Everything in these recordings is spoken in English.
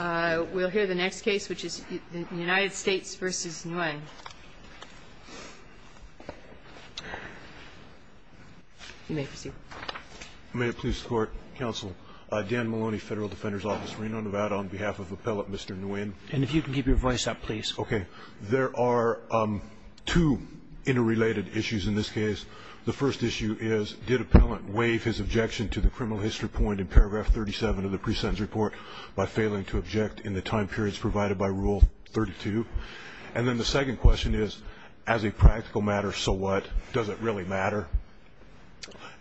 We'll hear the next case, which is the United States v. Nguyen. You may proceed. May it please the Court, Counsel. Dan Maloney, Federal Defender's Office, Reno, Nevada, on behalf of Appellant Mr. Nguyen. And if you can keep your voice up, please. Okay. There are two interrelated issues in this case. The first issue is, did Appellant waive his objection to the criminal history point in paragraph 37 of the pre-sentence report by failing to object in the time periods provided by Rule 32? And then the second question is, as a practical matter, so what? Does it really matter?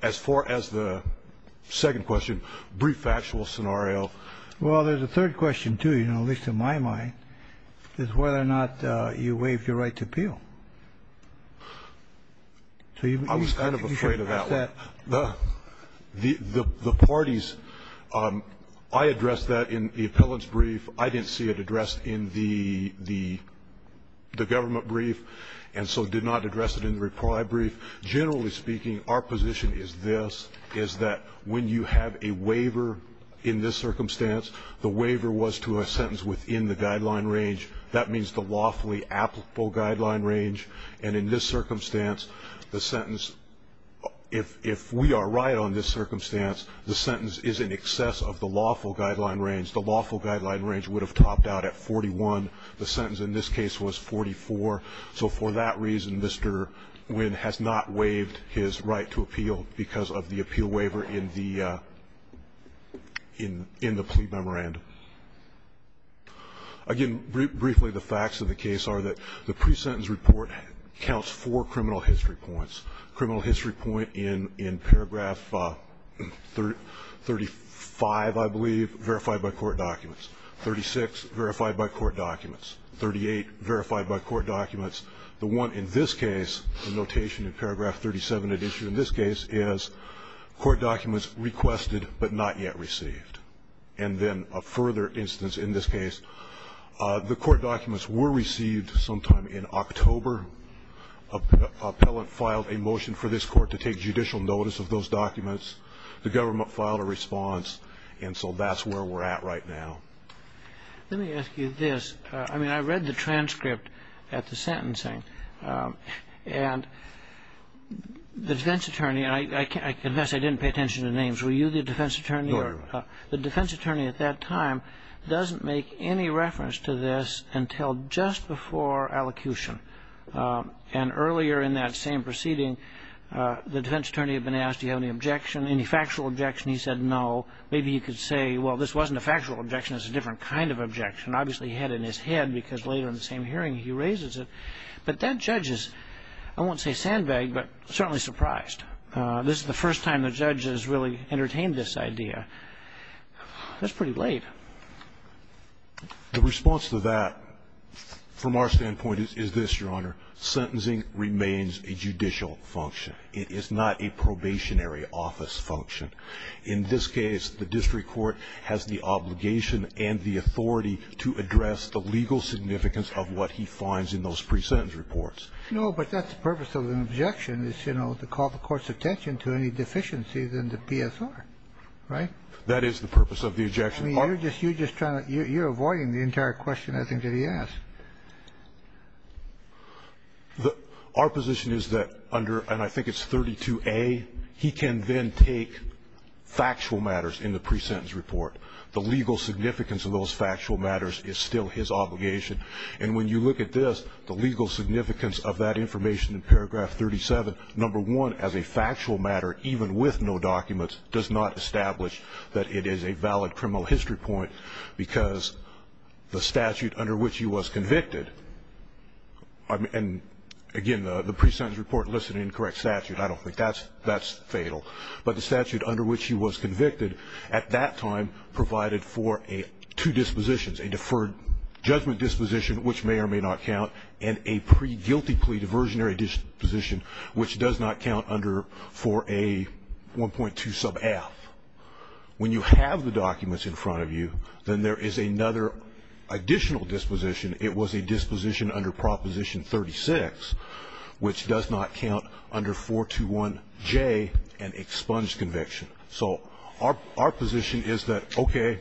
As far as the second question, brief factual scenario. Well, there's a third question, too, at least in my mind, is whether or not you waived your right to appeal. I was kind of afraid of that one. The parties, I addressed that in the appellant's brief. I didn't see it addressed in the government brief, and so did not address it in the reply brief. Generally speaking, our position is this, is that when you have a waiver in this circumstance, the waiver was to a sentence within the guideline range. That means the lawfully applicable guideline range. And in this circumstance, the sentence, if we are right on this circumstance, the sentence is in excess of the lawful guideline range. The lawful guideline range would have topped out at 41. The sentence in this case was 44. So for that reason, Mr. Nguyen has not waived his right to appeal because of the appeal waiver in the plea memorandum. Again, briefly, the facts of the case are that the pre-sentence report counts four criminal history points. Criminal history point in paragraph 35, I believe, verified by court documents. 36, verified by court documents. 38, verified by court documents. The one in this case, the notation in paragraph 37 that is issued in this case, is court documents requested but not yet received. And then a further instance in this case, the court documents were received sometime in October. Appellant filed a motion for this Court to take judicial notice of those documents. The government filed a response. And so that's where we're at right now. Let me ask you this. I mean, I read the transcript at the sentencing. And the defense attorney, and I confess I didn't pay attention to names. Were you the defense attorney? No, Your Honor. The defense attorney at that time doesn't make any reference to this until just before allocution. And earlier in that same proceeding, the defense attorney had been asked, do you have any objection, any factual objection? He said no. Maybe you could say, well, this wasn't a factual objection, it's a different kind of objection. Obviously he had it in his head because later in the same hearing he raises it. But that judge is, I won't say sandbagged, but certainly surprised. This is the first time the judge has really entertained this idea. That's pretty late. The response to that, from our standpoint, is this, Your Honor. Sentencing remains a judicial function. It is not a probationary office function. In this case, the district court has the obligation and the authority to address the legal significance of what he finds in those pre-sentence reports. No, but that's the purpose of an objection is, you know, to call the court's attention to any deficiencies in the PSR. Right? That is the purpose of the objection. I mean, you're just trying to you're avoiding the entire question I think that he asked. Our position is that under, and I think it's 32A, he can then take factual matters in the pre-sentence report. The legal significance of those factual matters is still his obligation. And when you look at this, the legal significance of that information in paragraph 37, number one, as a factual matter, even with no documents, does not establish that it is a valid criminal history point, because the statute under which he was convicted, and, again, the pre-sentence report lists an incorrect statute. I don't think that's fatal. But the statute under which he was convicted at that time provided for two dispositions, a deferred judgment disposition, which may or may not count, and a pre-guilty plea diversionary disposition, which does not count under for a 1.2 sub F. When you have the documents in front of you, then there is another additional disposition. It was a disposition under Proposition 36, which does not count under 421J, an expunged conviction. So our position is that, okay,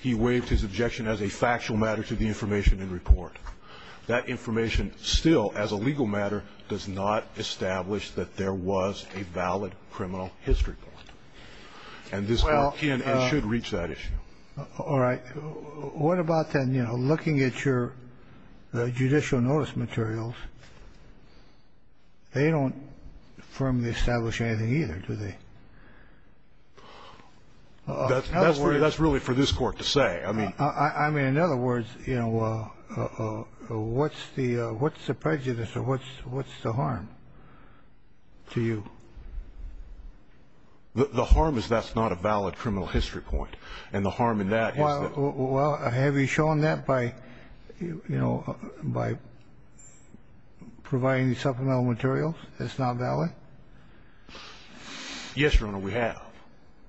he waived his objection as a factual matter to the information in report. That information still, as a legal matter, does not establish that there was a valid criminal history point. And this court can and should reach that issue. All right. What about then, you know, looking at your judicial notice materials, they don't firmly establish anything either, do they? That's really for this Court to say. I mean, in other words, you know, what's the prejudice or what's the harm to you? The harm is that's not a valid criminal history point. And the harm in that is that the criminal history point is not valid. Well, have you shown that by, you know, by providing supplemental materials it's not valid? Yes, Your Honor, we have.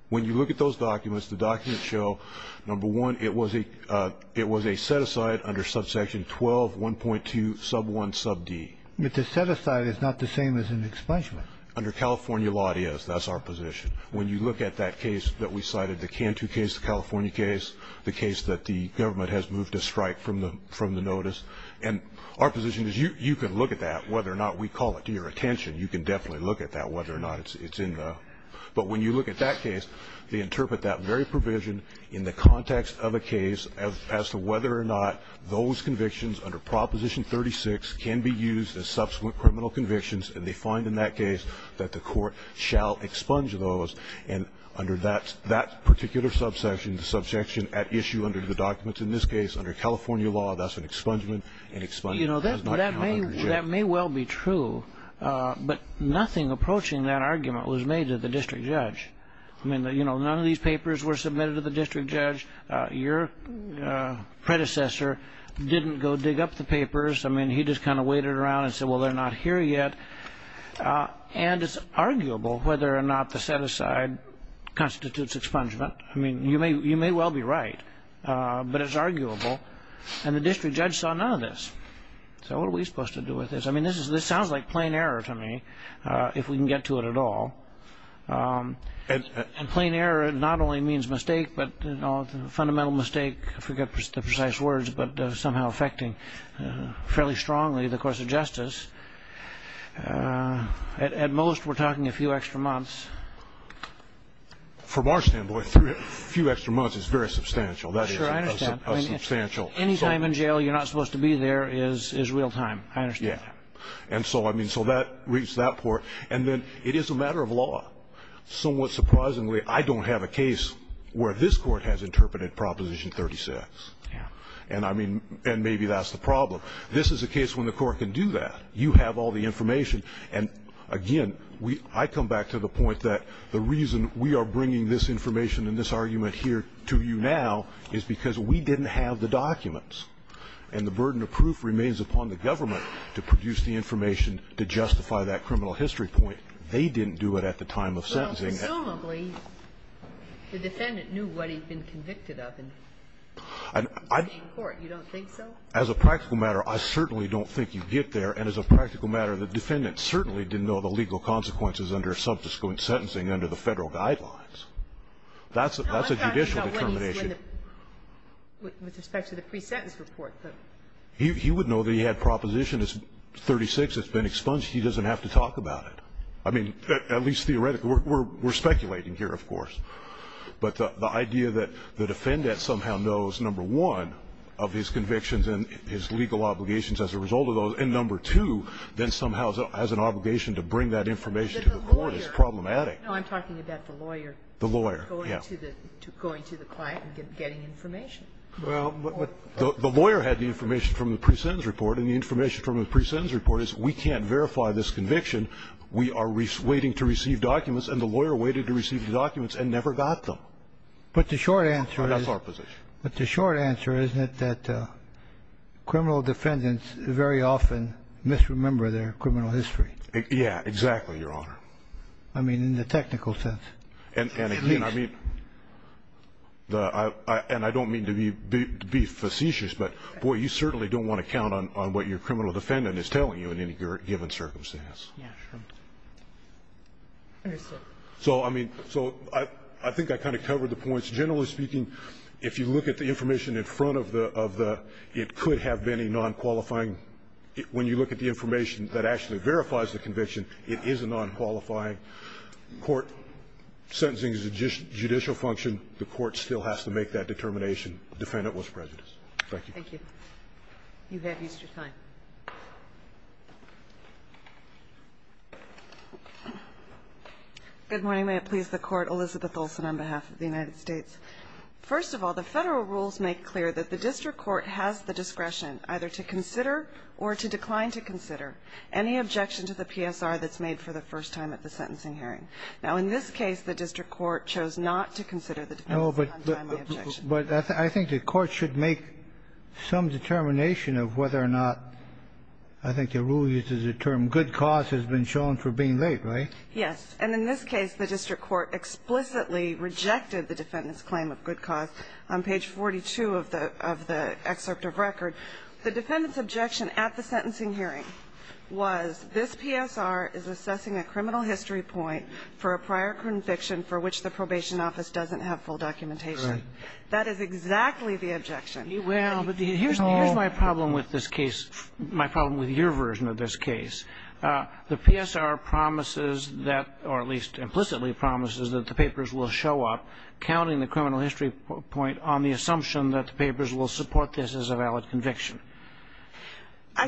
When you look at those documents, the documents show, number one, it was a set-aside under subsection 12, 1.2, sub 1, sub D. But the set-aside is not the same as an expungement. Under California law, it is. That's our position. When you look at that case that we cited, the Cantu case, the California case, the case that the government has moved a strike from the notice, and our position is you can look at that, whether or not we call it to your attention. You can definitely look at that, whether or not it's in the – but when you look at that case, they interpret that very provision in the context of a case as to whether or not those convictions under Proposition 36 can be used as subsequent criminal convictions, and they find in that case that the Court shall expunge those. And under that particular subsection, the subsection at issue under the documents in this case, under California law, that's an expungement. That may well be true, but nothing approaching that argument was made to the district judge. I mean, none of these papers were submitted to the district judge. Your predecessor didn't go dig up the papers. I mean, he just kind of waited around and said, well, they're not here yet. And it's arguable whether or not the set-aside constitutes expungement. I mean, you may well be right, but it's arguable, and the district judge saw none of this. He said, well, what are we supposed to do with this? I mean, this sounds like plain error to me, if we can get to it at all. And plain error not only means mistake, but fundamental mistake, I forget the precise words, but somehow affecting fairly strongly the course of justice. At most, we're talking a few extra months. From our standpoint, a few extra months is very substantial. That is a substantial sum. Sure, I understand. I mean, any time in jail you're not supposed to be there is real time. I understand that. Yeah. And so, I mean, so that reached that point. And then it is a matter of law. Somewhat surprisingly, I don't have a case where this Court has interpreted Proposition 36. Yeah. And I mean, and maybe that's the problem. This is a case when the Court can do that. You have all the information. And again, I come back to the point that the reason we are bringing this information and this argument here to you now is because we didn't have the documents. And the burden of proof remains upon the government to produce the information to justify that criminal history point. They didn't do it at the time of sentencing. Well, presumably, the defendant knew what he'd been convicted of in the Supreme Court. You don't think so? As a practical matter, I certainly don't think you get there. And as a practical matter, the defendant certainly didn't know the legal consequences under subsequent sentencing under the Federal guidelines. That's a judicial determination. With respect to the pre-sentence report. He would know that he had Proposition 36 that's been expunged. He doesn't have to talk about it. I mean, at least theoretically. We're speculating here, of course. But the idea that the defendant somehow knows, number one, of his convictions and his legal obligations as a result of those, and, number two, then somehow has an obligation to bring that information to the court is problematic. No, I'm talking about the lawyer. The lawyer, yes. Going to the client and getting information. Well, the lawyer had the information from the pre-sentence report, and the information from the pre-sentence report is we can't verify this conviction. We are waiting to receive documents, and the lawyer waited to receive the documents and never got them. But the short answer is. That's our position. But the short answer is that criminal defendants very often misremember their criminal history. Yeah, exactly, Your Honor. I mean, in the technical sense. And, again, I mean, and I don't mean to be facetious, but, boy, you certainly don't want to count on what your criminal defendant is telling you in any given circumstance. Yeah, sure. So, I mean, so I think I kind of covered the points. Generally speaking, if you look at the information in front of the of the, it could have been a nonqualifying. When you look at the information that actually verifies the conviction, it is a nonqualifying court. Sentencing is a judicial function. The court still has to make that determination. Defendant was prejudiced. Thank you. Thank you. You have used your time. Good morning. May it please the Court, Elizabeth Olson on behalf of the United States. First of all, the Federal rules make clear that the district court has the discretion either to consider or to decline to consider any objection to the PSR that's made for the first time at the sentencing hearing. Now, in this case, the district court chose not to consider the defense. But I think the court should make some determination of whether or not, I think the rule uses the term good cause has been shown for being late, right? Yes. And in this case, the district court explicitly rejected the defendant's claim of good cause on page 42 of the excerpt of record. The defendant's objection at the sentencing hearing was this PSR is assessing a criminal history point for a prior conviction for which the probation office doesn't have full documentation. Right. That is exactly the objection. Well, but here's my problem with this case, my problem with your version of this case. The PSR promises that or at least implicitly promises that the papers will show up counting the criminal history point on the assumption that the papers will support this as a valid conviction.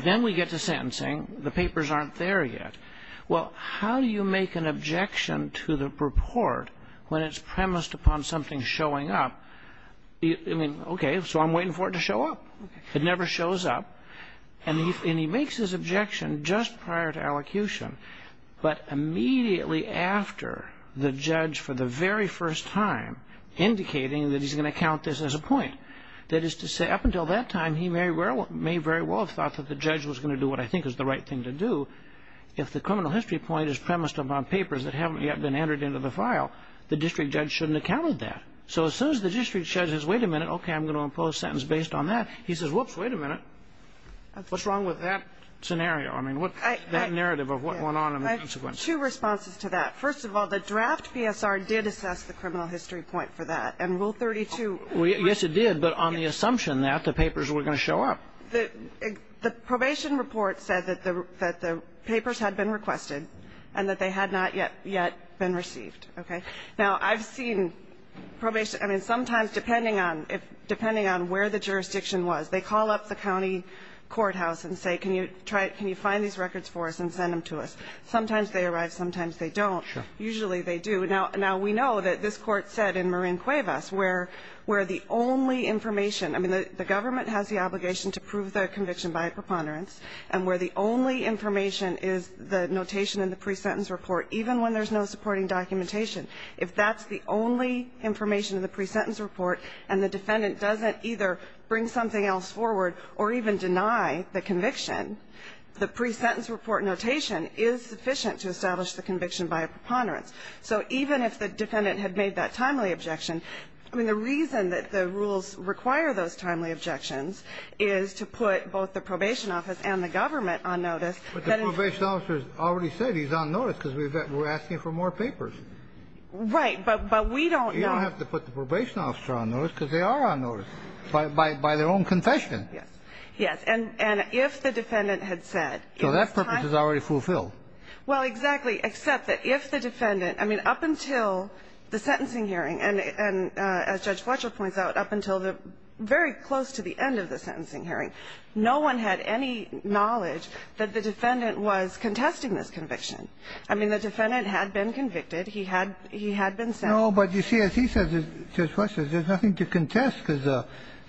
Then we get to sentencing. The papers aren't there yet. Well, how do you make an objection to the report when it's premised upon something showing up? I mean, okay, so I'm waiting for it to show up. Okay. It never shows up. And he makes his objection just prior to allocution, but immediately after the judge for the very first time indicating that he's going to count this as a point. That is to say, up until that time, he may very well have thought that the judge was going to do what I think is the right thing to do. If the criminal history point is premised upon papers that haven't yet been entered into the file, the district judge shouldn't have counted that. So as soon as the district judge says, wait a minute, okay, I'm going to impose a sentence based on that, he says, whoops, wait a minute, what's wrong with that scenario? I mean, that narrative of what went on and the consequences. I have two responses to that. First of all, the draft PSR did assess the criminal history point for that. And Rule 32. Yes, it did. But on the assumption that the papers were going to show up. The probation report said that the papers had been requested and that they had not yet been received. Okay. Now, I've seen probation. I mean, sometimes depending on where the jurisdiction was, they call up the county courthouse and say, can you find these records for us and send them to us. Sometimes they arrive, sometimes they don't. Sure. Usually they do. Now, we know that this Court said in Marin Cuevas where the only information – I mean, the government has the obligation to prove the conviction by a preponderance and where the only information is the notation in the pre-sentence report, even when there's no supporting documentation. If that's the only information in the pre-sentence report and the defendant doesn't either bring something else forward or even deny the conviction, the pre-sentence report notation is sufficient to establish the conviction by a preponderance. So even if the defendant had made that timely objection, I mean, the reason that the rules require those timely objections is to put both the probation office and the government on notice. But the probation officer has already said he's on notice because we're asking for more papers. Right. But we don't know. You don't have to put the probation officer on notice because they are on notice by their own confession. Yes. And if the defendant had said it was timely – So that purpose is already fulfilled. Well, exactly, except that if the defendant – I mean, up until the sentencing hearing, and as Judge Fletcher points out, up until the very close to the end of the hearing, the defendant was contesting this conviction. I mean, the defendant had been convicted. He had been sentenced. No, but you see, as he says, Judge Fletcher, there's nothing to contest because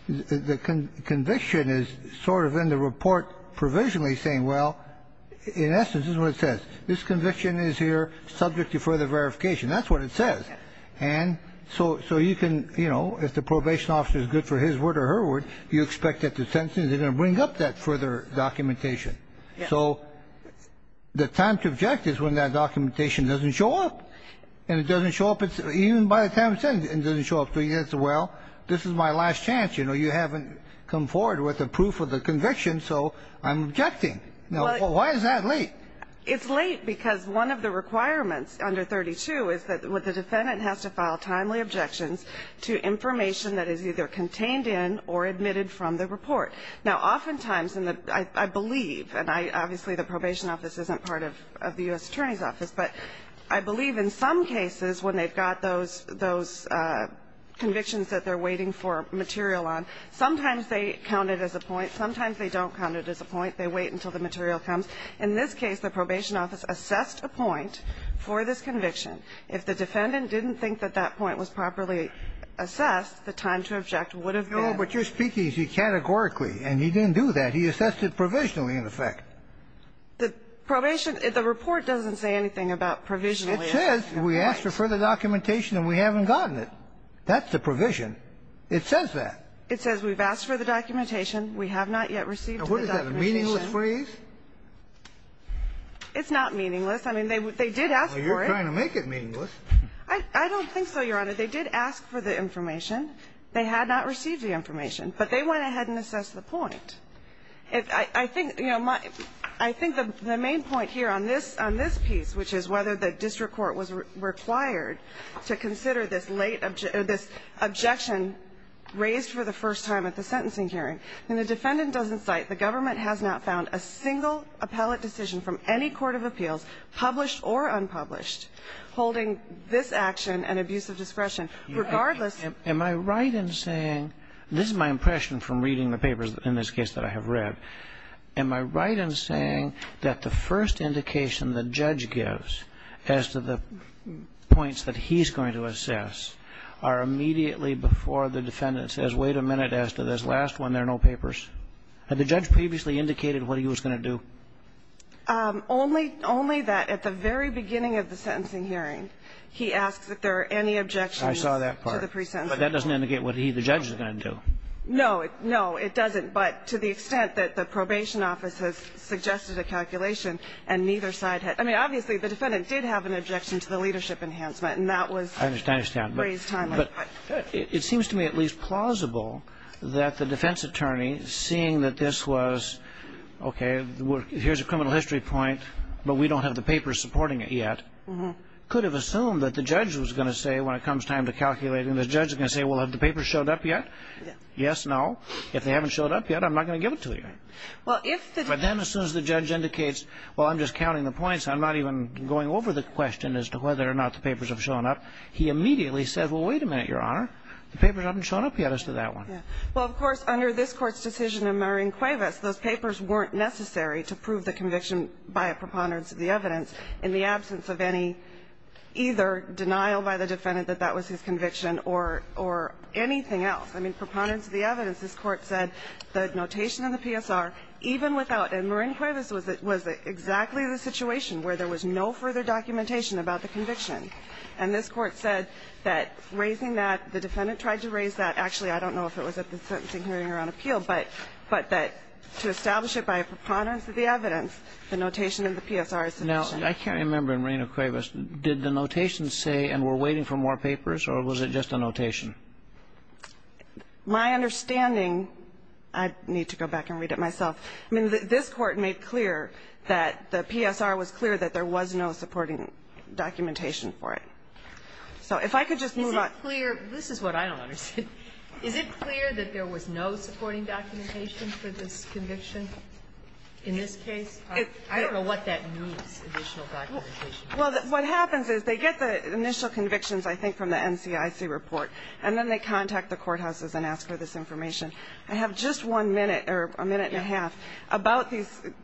the conviction is sort of in the report provisionally saying, well, in essence, this is what it says. This conviction is here subject to further verification. That's what it says. And so you can, you know, if the probation officer is good for his word or her word, you expect at the sentencing they're going to bring up that further documentation. So the time to object is when that documentation doesn't show up. And it doesn't show up, even by the time it's in, it doesn't show up. So you say, well, this is my last chance. You know, you haven't come forward with a proof of the conviction, so I'm objecting. Now, why is that late? It's late because one of the requirements under 32 is that the defendant has to file timely objections to information that is either contained in or admitted from the report. Now, oftentimes in the – I believe, and obviously the probation office isn't part of the U.S. Attorney's Office, but I believe in some cases when they've got those convictions that they're waiting for material on, sometimes they count it as a point, sometimes they don't count it as a point. They wait until the material comes. In this case, the probation office assessed a point for this conviction. If the defendant didn't think that that point was properly assessed, the time to object would have been. But you're speaking categorically, and he didn't do that. He assessed it provisionally, in effect. The probation – the report doesn't say anything about provisionally. It says we asked for further documentation and we haven't gotten it. That's the provision. It says that. It says we've asked for the documentation. We have not yet received the documentation. Now, what is that, a meaningless phrase? It's not meaningless. I mean, they did ask for it. Well, you're trying to make it meaningless. I don't think so, Your Honor. They did ask for the information. They had not received the information. But they went ahead and assessed the point. I think, you know, my – I think the main point here on this – on this piece, which is whether the district court was required to consider this late – this objection raised for the first time at the sentencing hearing. When the defendant doesn't cite, the government has not found a single appellate decision from any court of appeals, published or unpublished, holding this action an abuse of discretion, regardless. Am I right in saying – this is my impression from reading the papers in this case that I have read. Am I right in saying that the first indication the judge gives as to the points that he's going to assess are immediately before the defendant says, wait a minute, as to this last one, there are no papers? Had the judge previously indicated what he was going to do? Only – only that at the very beginning of the sentencing hearing, he asks if there are any objections to the preceding sentence. But that doesn't indicate what he, the judge, is going to do. No. No, it doesn't. But to the extent that the probation office has suggested a calculation and neither side has – I mean, obviously, the defendant did have an objection to the leadership enhancement, and that was raised timely. I understand. But it seems to me at least plausible that the defense attorney, seeing that this was, okay, here's a criminal history point, but we don't have the papers supporting it yet, could have assumed that the judge was going to say when it comes time to calculate, and the judge is going to say, well, have the papers showed up yet? Yes, no. If they haven't showed up yet, I'm not going to give it to you. Well, if the – But then as soon as the judge indicates, well, I'm just counting the points, I'm not even going over the question as to whether or not the papers have shown up, he immediately says, well, wait a minute, Your Honor, the papers haven't shown up yet as to that one. Yeah. Well, of course, under this Court's decision in Marin Cuevas, those papers weren't necessary to prove the conviction by a preponderance of the evidence in the absence of any either denial by the defendant that that was his conviction or anything else. I mean, preponderance of the evidence. This Court said the notation of the PSR, even without – and Marin Cuevas was exactly the situation where there was no further documentation about the conviction. And this Court said that raising that, the defendant tried to raise that. Actually, I don't know if it was at the sentencing hearing or on appeal, but that to establish it by a preponderance of the evidence, the notation of the PSR is sufficient. Now, I can't remember in Marin Cuevas, did the notation say, and we're waiting for more papers, or was it just a notation? My understanding – I need to go back and read it myself. I mean, this Court made clear that the PSR was clear that there was no supporting documentation for it. So if I could just move on. Is it clear – this is what I don't understand. Is it clear that there was no supporting documentation for this conviction in this case? I don't know what that means, additional documentation. Well, what happens is they get the initial convictions, I think, from the NCIC report, and then they contact the courthouses and ask for this information. I have just one minute or a minute and a half about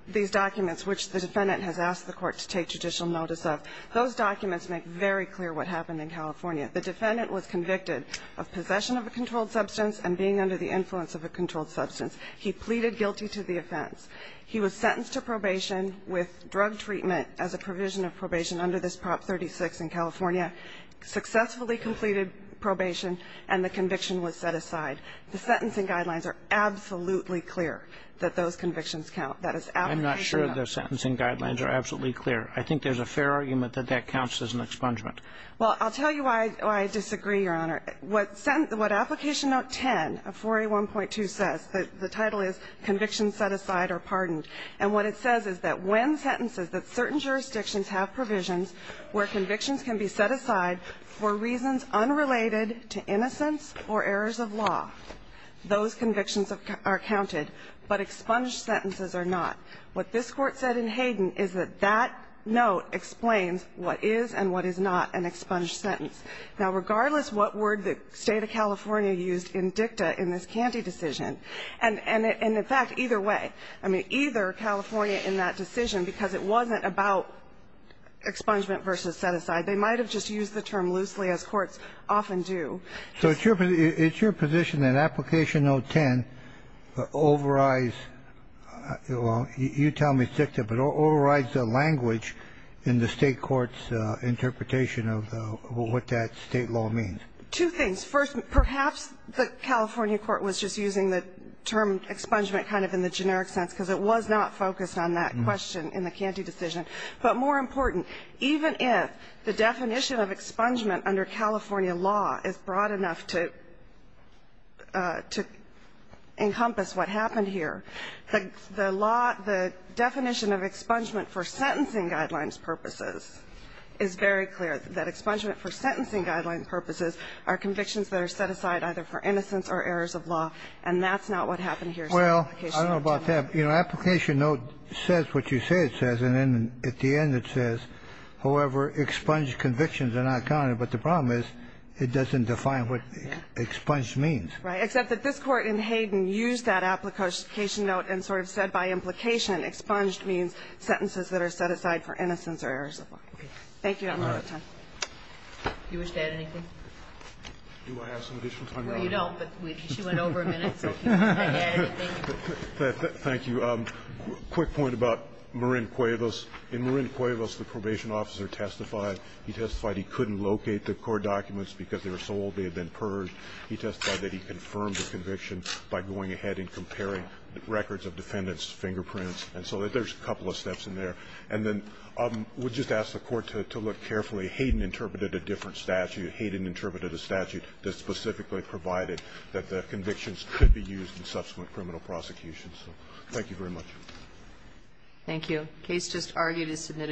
these documents, which the defendant has asked the Court to take judicial notice of. Those documents make very clear what happened in California. The defendant was convicted of possession of a controlled substance and being under the influence of a controlled substance. He pleaded guilty to the offense. He was sentenced to probation with drug treatment as a provision of probation under this Prop 36 in California, successfully completed probation, and the conviction was set aside. The sentencing guidelines are absolutely clear that those convictions count. I'm not sure the sentencing guidelines are absolutely clear. I think there's a fair argument that that counts as an expungement. Well, I'll tell you why I disagree, Your Honor. What Application Note 10 of 4A1.2 says, the title is, Convictions Set Aside or Pardoned. And what it says is that when sentences that certain jurisdictions have provisions where convictions can be set aside for reasons unrelated to innocence or errors of law, those convictions are counted, but expunged sentences are not. What this Court said in Hayden is that that note explains what is and what is not an expunged sentence. Now, regardless what word the State of California used in dicta in this Canty decision and, in fact, either way, I mean, either California in that decision, because it wasn't about expungement versus set aside, they might have just used the term loosely as courts often do. So it's your position that Application Note 10 overrides, well, you tell me it's dicta, but overrides the language in the State court's interpretation of what that State law means. Two things. First, perhaps the California court was just using the term expungement kind of in the generic sense because it was not focused on that question in the Canty decision. But more important, even if the definition of expungement under California law is broad enough to encompass what happened here, the law, the definition of expungement for sentencing guidelines purposes is very clear, that expungement for sentencing guideline purposes are convictions that are set aside either for innocence or errors of law, and that's not what happened here. Well, I don't know about that. You know, Application Note says what you say it says, and then at the end it says, however, expunged convictions are not counted. But the problem is it doesn't define what expunged means. Right. Except that this Court in Hayden used that Application Note and sort of said by implication expunged means sentences that are set aside for innocence or errors of law. Thank you. I don't have time. Do you wish to add anything? Do I have some additional time? Well, you don't, but she went over a minute, so if you want to add anything. Thank you. Just a quick point about Marin Cuevas. In Marin Cuevas, the probation officer testified. He testified he couldn't locate the court documents because they were so old they had been purged. He testified that he confirmed the conviction by going ahead and comparing records of defendants' fingerprints. And so there's a couple of steps in there. And then I would just ask the Court to look carefully. Hayden interpreted a different statute. Hayden interpreted a statute that specifically provided that the convictions could be used in subsequent criminal prosecution. So thank you very much. Thank you.